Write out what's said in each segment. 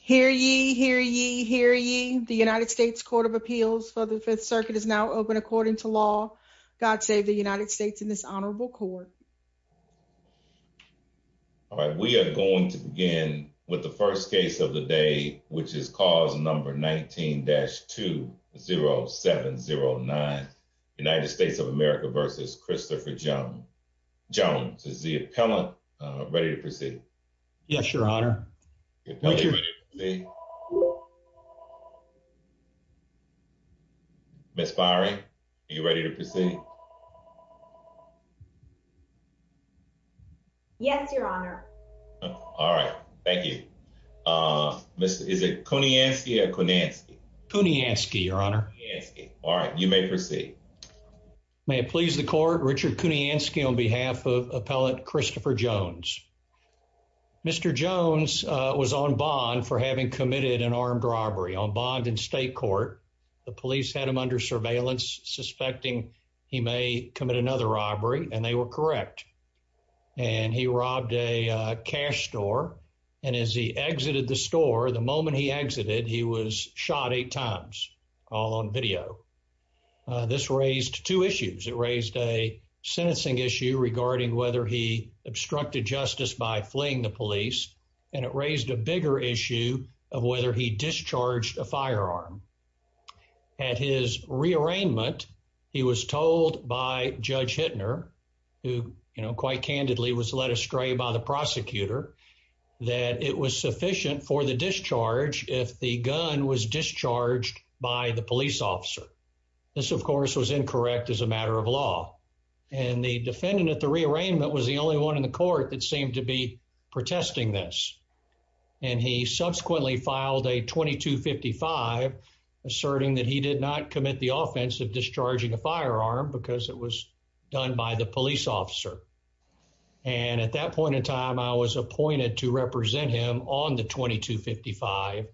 Hear ye, hear ye, hear ye. The United States Court of Appeals for the Fifth Circuit is now open according to law. God save the United States in this honorable court. All right, we are going to begin with the first case of the day, which is cause number 19-20709, United States of America v. Christopher Jones. Is the appellant ready to proceed? Yes, Your Honor. Ms. Fiery, are you ready to proceed? Yes, Your Honor. All right, thank you. Is it Kuniansky or Kunansky? Kuniansky, Your Honor. All right, you may proceed. May it please the court, Richard Kuniansky on behalf of appellant Christopher Jones. Mr. Jones was on bond for having committed an armed robbery, on bond in state court. The police had him under surveillance, suspecting he may commit another robbery, and they were correct. And he robbed a cash store. And as he exited the store, the moment he exited, he was shot eight times, all on video. This raised two issues. It raised a sentencing issue regarding whether he obstructed justice by fleeing the police. And it raised a bigger issue of whether he discharged a firearm. At his rearrangement, he was told by Judge Hittner, who, you know, quite candidly was led astray by the prosecutor, that it was sufficient for the discharge if the gun was discharged by the police officer. This, of course, was incorrect as a matter of law. And the defendant at the rearrangement was the only one in the court that seemed to be protesting this. And he subsequently filed a 2255, asserting that he did not commit the offense of discharging a firearm because it was done by the police officer. And at that point in time, I was appointed to represent him on the 2255.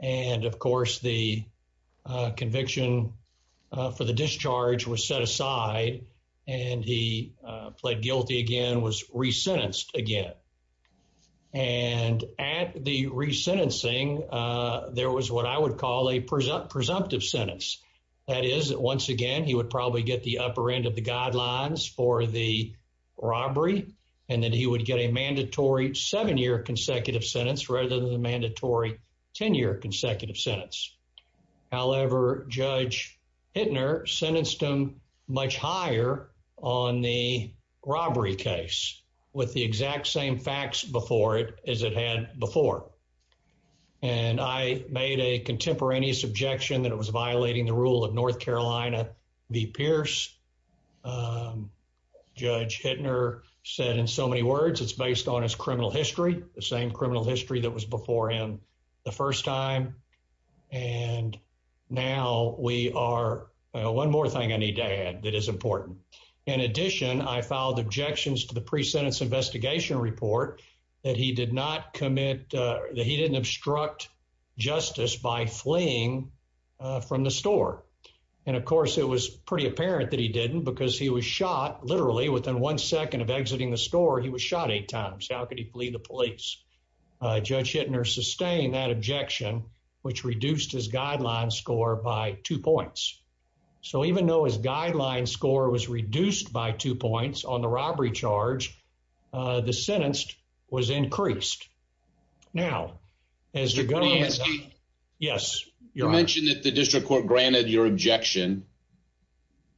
And of course, the conviction for the discharge was set aside, and he pled guilty again, was resentenced again. And at the resentencing, there was what I would call a presumptive sentence. That is, once again, he would probably get the upper end of the guidelines for the robbery, and then he would get a mandatory seven-year consecutive sentence rather than the mandatory 10-year consecutive sentence. However, Judge Hittner sentenced him much higher on the robbery case with the exact same facts before it as it had before. And I made a contemporaneous objection that it was violating the rule of North Carolina v. Pierce. Judge Hittner said in so many words, it's based on the same criminal history that was before him the first time. And now we are... One more thing I need to add that is important. In addition, I filed objections to the pre-sentence investigation report that he did not commit... That he didn't obstruct justice by fleeing from the store. And of course, it was pretty apparent that he didn't because he was shot, literally, within one second of exiting the store, he was shot eight times. How could he flee the police? Judge Hittner sustained that objection, which reduced his guideline score by two points. So even though his guideline score was reduced by two points on the robbery charge, the sentence was increased. Now, as the government... Mr. Koniewski. Yes, Your Honor. You mentioned that the district court granted your objection,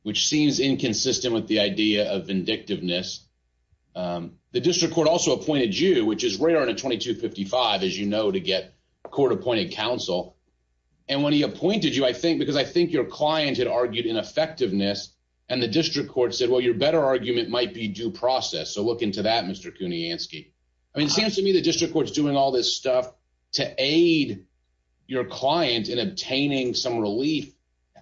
which seems inconsistent with the idea of vindictiveness. The district court also appointed you, which is rare in a 2255, as you know, to get a court-appointed counsel. And when he appointed you, I think, because I think your client had argued ineffectiveness, and the district court said, well, your better argument might be due process. So look into that, Mr. Koniewski. I mean, it seems to me the district court's doing all this stuff to aid your client in obtaining some relief.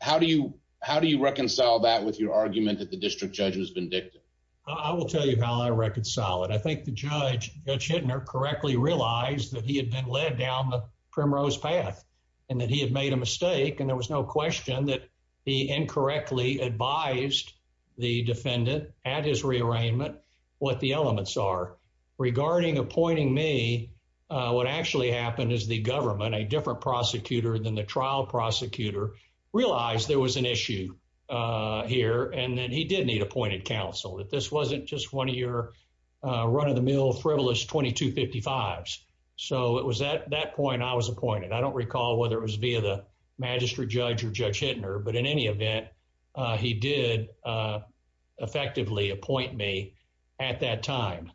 How do you reconcile that with your argument that the district judge was vindictive? I will tell you how I reconcile it. I think the judge, Judge Hittner, correctly realized that he had been led down the primrose path, and that he had made a mistake, and there was no question that he incorrectly advised the defendant at his rearrangement what the elements are. Regarding appointing me, what actually happened is the government, a different prosecutor than the trial prosecutor, realized there was an issue here, and that he did need appointed counsel, that this wasn't just one of your run-of-the-mill frivolous 2255s. So it was at that point I was appointed. I don't recall whether it was via the magistrate judge or Judge Hittner, but in any event, he did effectively appoint me at that time.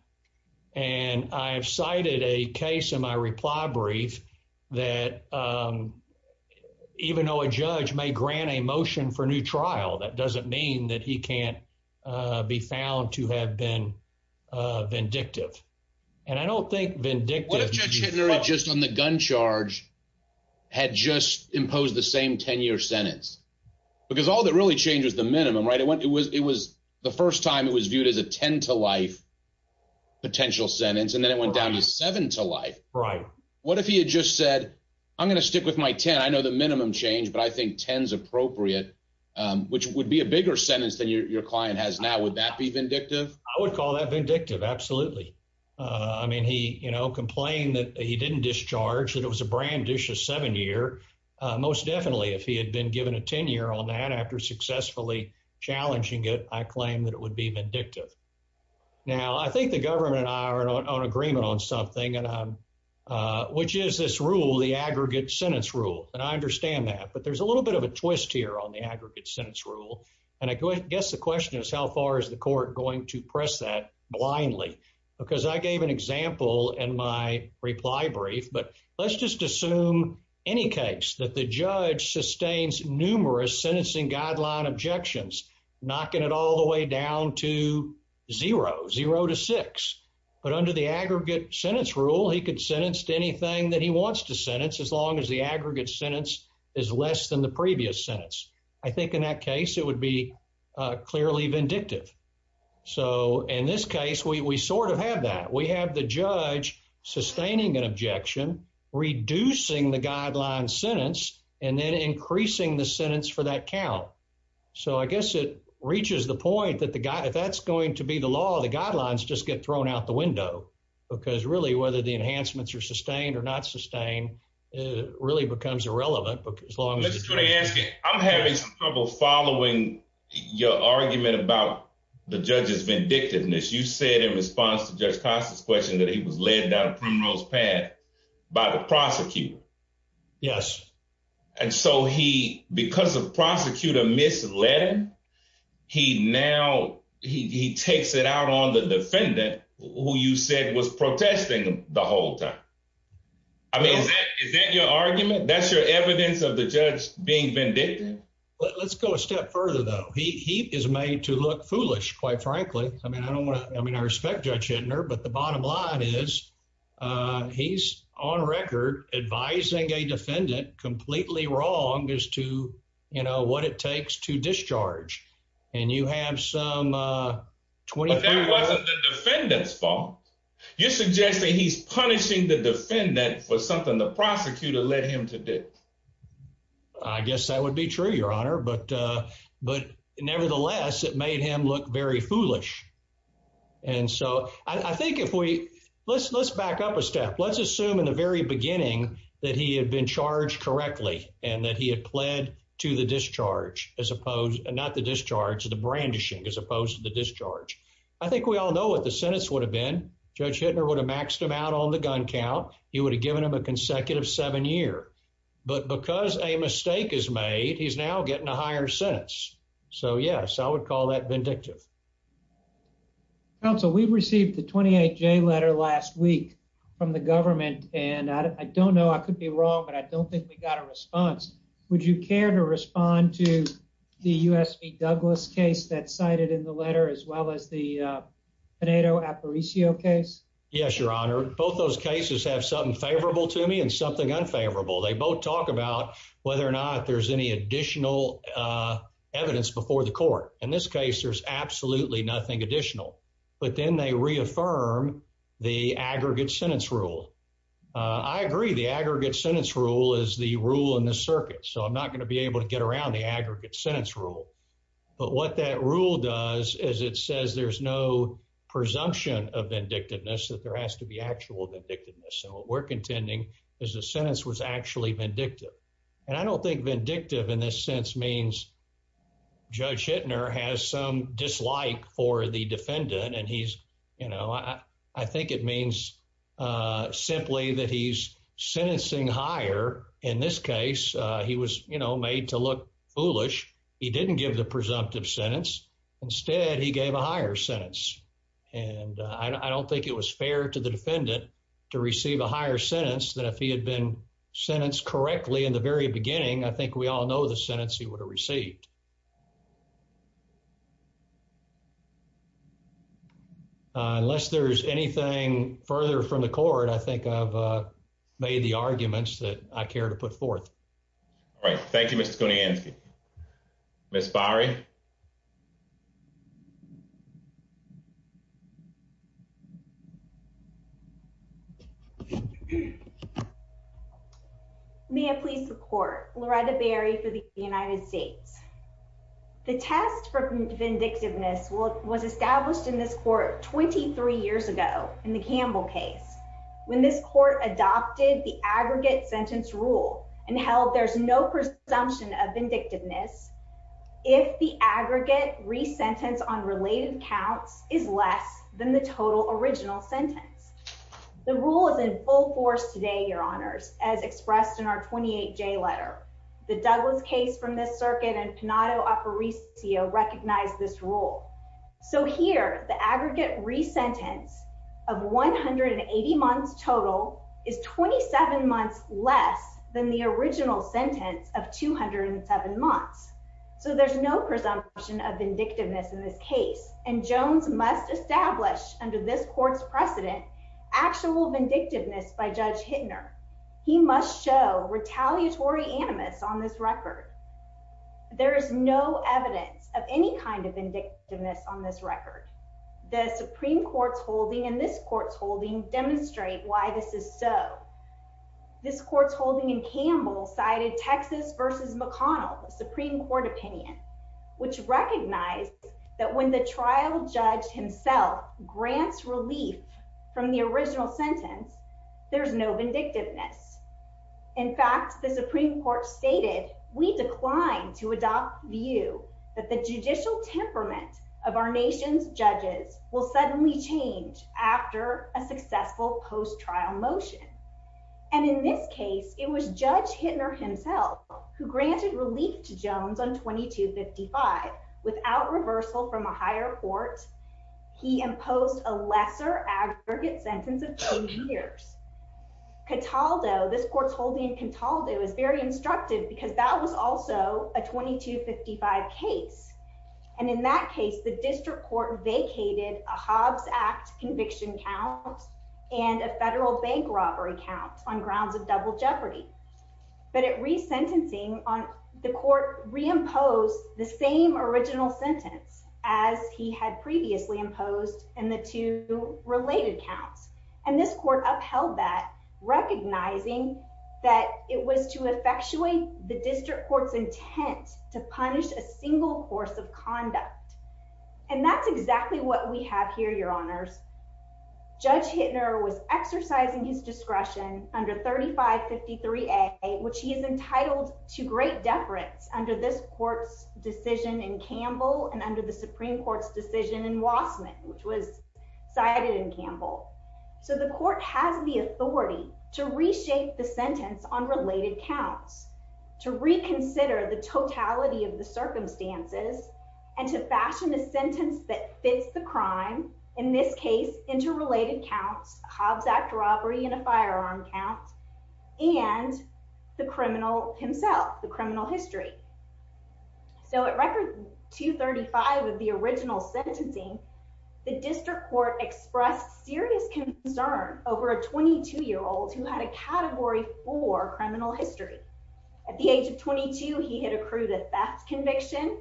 And I have cited a case in my reply brief that even though a judge may grant a motion for new trial, that doesn't mean that he can't be found to have been vindictive. And I don't think vindictive... What if Judge Hittner just on the gun charge had just imposed the same 10-year sentence? Because all that really changed was the minimum, right? It was the first time it was viewed as a 10 to life potential sentence, and then it just said, I'm going to stick with my 10. I know the minimum changed, but I think 10 is appropriate, which would be a bigger sentence than your client has now. Would that be vindictive? I would call that vindictive, absolutely. I mean, he complained that he didn't discharge, that it was a branditious seven-year. Most definitely, if he had been given a 10-year on that after successfully challenging it, I claim that it would be vindictive. Now, I think the government and I are on agreement on something, which is this rule, the aggregate sentence rule. And I understand that, but there's a little bit of a twist here on the aggregate sentence rule. And I guess the question is, how far is the court going to press that blindly? Because I gave an example in my reply brief, but let's just assume any case that the judge sustains numerous sentencing guideline objections, knocking it all the way down to zero, zero to six. But under the aggregate sentence rule, he could sentence to anything that he wants to sentence, as long as the aggregate sentence is less than the previous sentence. I think in that case, it would be clearly vindictive. So in this case, we sort of have that. We have the judge sustaining an objection, reducing the guideline sentence, and then increasing the sentence for that count. So I guess it reaches the point that the guy, if that's going to be the law, the guidelines just get thrown out the window. Because really, whether the enhancements are sustained or not sustained, it really becomes irrelevant. But as long as you're asking, I'm having trouble following your argument about the judge's vindictiveness. You said in response to Judge Costa's question that he was led down a primrose path by the prosecutor. Yes. And so he, because the prosecutor misled him, he now, he takes it out on the defendant, who you said was protesting the whole time. I mean, is that your argument? That's your evidence of the judge being vindictive? Let's go a step further, though. He is made to look foolish, quite frankly. I mean, I don't want to, I mean, I respect Judge Hintner, but the bottom line is, he's on record advising a defendant completely wrong as to, you know, what it takes to discharge. And you have some... But that wasn't the defendant's fault. You're suggesting he's punishing the defendant for something the prosecutor led him to do. I guess that would be true, Your Honor. But nevertheless, it made him look very foolish. And so I think if we... Let's back up a step. Let's assume in the very beginning that he had been charged correctly and that he had pled to the discharge as opposed, not the discharge, the brandishing as opposed to the discharge. I think we all know what the sentence would have been. Judge Hintner would have maxed him out on the gun count. He would have given him a consecutive seven year. But because a mistake is made, he's now getting a higher sentence. So yes, I would call that vindictive. Counsel, we received the 28-J letter last week from the government. And I don't know, I could be wrong, but I don't think we got a response. Would you care to respond to the U.S. v. Douglas case that's cited in the letter as well as the Pinedo-Aparicio case? Yes, Your Honor. Both those cases have something favorable to me and something unfavorable. They both talk about whether or not there's any additional evidence before the court. In this case, there's absolutely nothing additional. But then they reaffirm the aggregate sentence rule. I agree the aggregate sentence rule is the rule in the circuit. So I'm not going to be able to get around the aggregate sentence rule. But what that rule does is it says there's no presumption of vindictiveness, that there has to be actual vindictiveness. So what we're contending is the sentence was actually vindictive. And I don't think vindictive in this sense means Judge Hittner has some dislike for the defendant. And he's, you know, I think it means simply that he's sentencing higher. In this case, he was, you know, made to look foolish. He didn't give the presumptive sentence. Instead, he gave a higher sentence. And I don't think it was fair to the defendant to receive a higher sentence than if he had been sentenced correctly in the very beginning. I think we all know the sentence he would have received. Unless there's anything further from the court, I think I've made the arguments that I care to put forth. All right. Thank you, Mr. Skownianski. Ms. Bari. May I please the court, Loretta Berry for the United States. The test for vindictiveness was established in this court 23 years ago in the Campbell case, when this court adopted the there's no presumption of vindictiveness if the aggregate re-sentence on related counts is less than the total original sentence. The rule is in full force today, your honors, as expressed in our 28-J letter. The Douglas case from this circuit and Panato-Aparicio recognized this rule. So here, the aggregate re-sentence of 180 months total is 27 months less than the original sentence of 207 months. So there's no presumption of vindictiveness in this case. And Jones must establish under this court's precedent, actual vindictiveness by Judge Hittner. He must show retaliatory animus on this record. There is no evidence of any kind of vindictiveness on this record. The Supreme Court's holding and this court's holding demonstrate why this is so. This court's holding in Campbell cited Texas versus McConnell, the Supreme Court opinion, which recognized that when the trial judge himself grants relief from the original sentence, there's no vindictiveness. In fact, the Supreme Court stated, we declined to adopt view that the judicial temperament of our nation's judges will suddenly change after a successful post-trial motion. And in this case, it was Judge Hittner himself who granted relief to Jones on 2255 without reversal from a higher court. He imposed a lesser aggregate sentence of 10 years. Cataldo, this court's holding in Cataldo is very instructive because that was also a 2255 case. And in that case, the district court vacated a Hobbs Act conviction count and a federal bank count on grounds of double jeopardy. But at resentencing on the court reimposed the same original sentence as he had previously imposed and the two related counts. And this court upheld that recognizing that it was to effectuate the district court's intent to punish a single course of conduct. And that's exactly what we have here, your honors. Judge Hittner was exercising his discretion under 3553A, which he is entitled to great deference under this court's decision in Campbell and under the Supreme Court's decision in Wassman, which was cited in Campbell. So the court has the authority to reshape the sentence on related counts, to reconsider the totality of the circumstances and to fashion a sentence that fits the crime. In this case, interrelated counts, Hobbs Act robbery and a firearm count and the criminal himself, the criminal history. So at record 235 of the original sentencing, the district court expressed serious concern over a 22-year-old who had a category four criminal history. At the age of 22, he had accrued a theft conviction,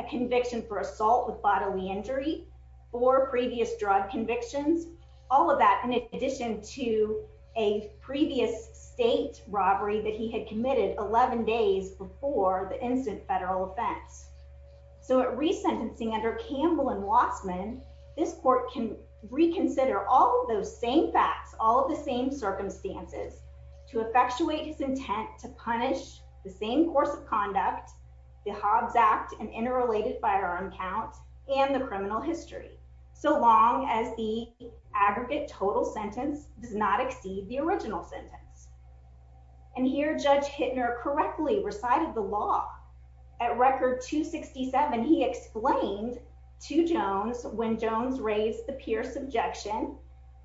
a conviction for assault with bodily injury, four previous drug convictions, all of that in addition to a previous state robbery that he had committed 11 days before the incident federal offense. So at resentencing under Campbell and Wassman, this court can reconsider all of those same facts, all of the same circumstances to effectuate his intent to punish the same course of conduct, the Hobbs Act and interrelated firearm count and the criminal history. So long as the aggregate total sentence does not exceed the original sentence. And here Judge Hittner correctly recited the law. At record 267, he explained to Jones when Jones raised the Pierce objection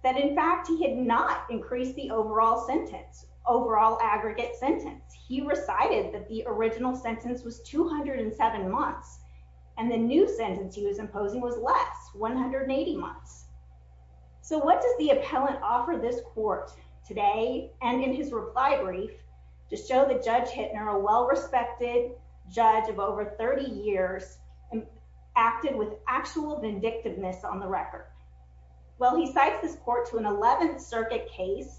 that in fact he had not increased the overall sentence, overall aggregate sentence. He recited that the original sentence was 207 months and the new sentence he was imposing was less, 180 months. So what does the appellant offer this court today and in his reply brief to show that Judge Hittner, a well-respected judge of over 30 years, acted with actual vindictiveness on the record? Well, he cites this court to an 11th circuit case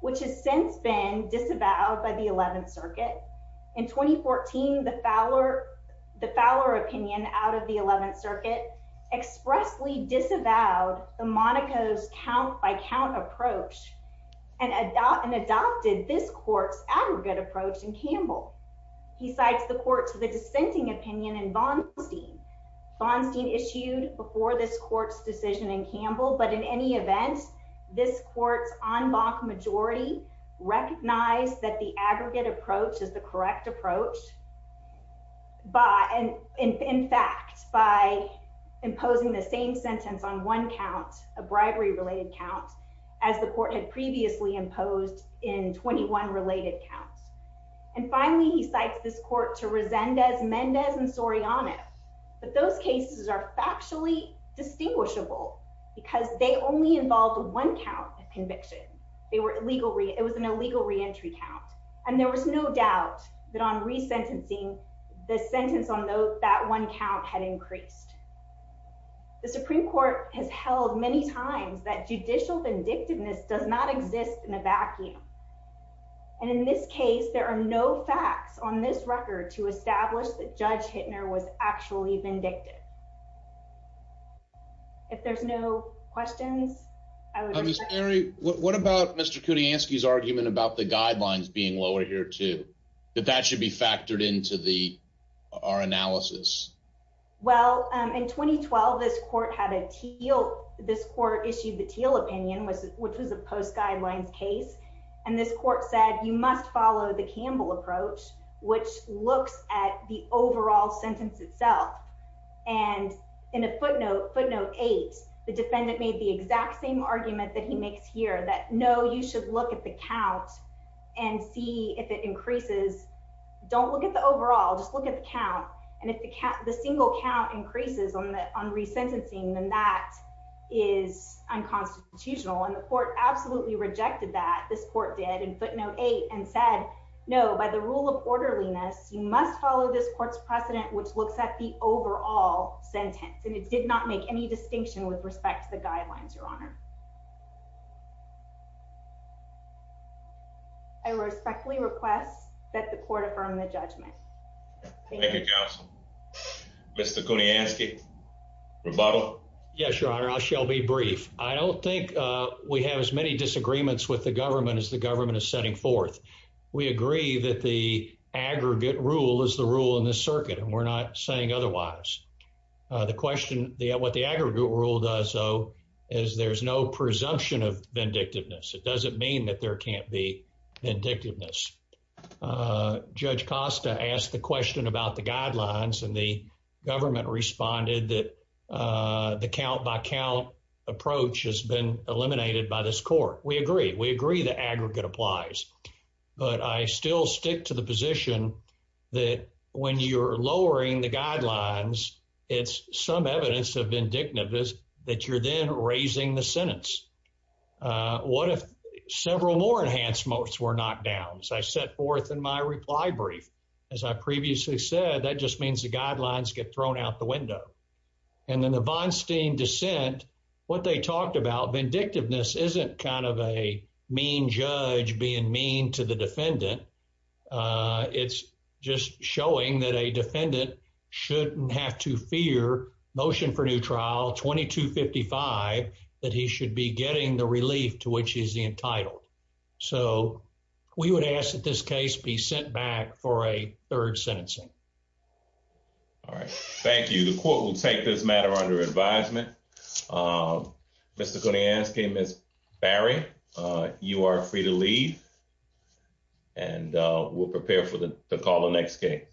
which has since been disavowed by the 11th the Monaco's count by count approach and adopted this court's aggregate approach in Campbell. He cites the court to the dissenting opinion in Vonstein. Vonstein issued before this court's decision in Campbell, but in any event, this court's en banc majority recognized that the a bribery-related count as the court had previously imposed in 21 related counts. And finally, he cites this court to Resendez, Mendez, and Soriano, but those cases are factually distinguishable because they only involved one count of conviction. It was an illegal reentry count and there was no doubt that on resentencing, the sentence on that one count had increased. The Supreme Court has held many times that judicial vindictiveness does not exist in a vacuum. And in this case, there are no facts on this record to establish that Judge Hittner was actually vindictive. If there's no questions, I would... Ms. Mary, what about Mr. Kudyansky's argument about the guidelines being lower here too, that that should be factored into the our analysis? Well, in 2012, this court issued the Teal opinion, which was a post guidelines case. And this court said, you must follow the Campbell approach, which looks at the overall sentence itself. And in a footnote eight, the defendant made the exact same argument that he makes here that, no, you should look at the count and see if it increases. Don't look at the overall, just look at the count. And if the single count increases on resentencing, then that is unconstitutional. And the court absolutely rejected that, this court did in footnote eight and said, no, by the rule of orderliness, you must follow this court's precedent, which looks at the overall sentence. And it did not make any distinction with respect to the guidelines, Your Honor. I respectfully request that the court affirm the judgment. Thank you, Counsel. Mr. Kudyansky, rebuttal? Yes, Your Honor, I shall be brief. I don't think we have as many disagreements with the government as the government is setting forth. We agree that the aggregate rule is the rule in this circuit, and we're not saying otherwise. The question, what the aggregate rule does though, is there's no presumption of vindictiveness. It guidelines, and the government responded that the count-by-count approach has been eliminated by this court. We agree. We agree the aggregate applies. But I still stick to the position that when you're lowering the guidelines, it's some evidence of vindictiveness that you're then raising the sentence. What if several more enhancements were knocked down? As I set forth in my reply brief, as I previously said, that just means the guidelines get thrown out the window. And then the Von Steen dissent, what they talked about, vindictiveness isn't kind of a mean judge being mean to the defendant. It's just showing that a defendant shouldn't have to fear motion for new trial 2255 that he should be getting the relief to which he's entitled. So we would ask that this case be sent back for a third sentencing. All right, thank you. The court will take this matter under advisement. Mr. Koniansky, Ms. Barry, you are free to leave, and we'll prepare for the call the next case.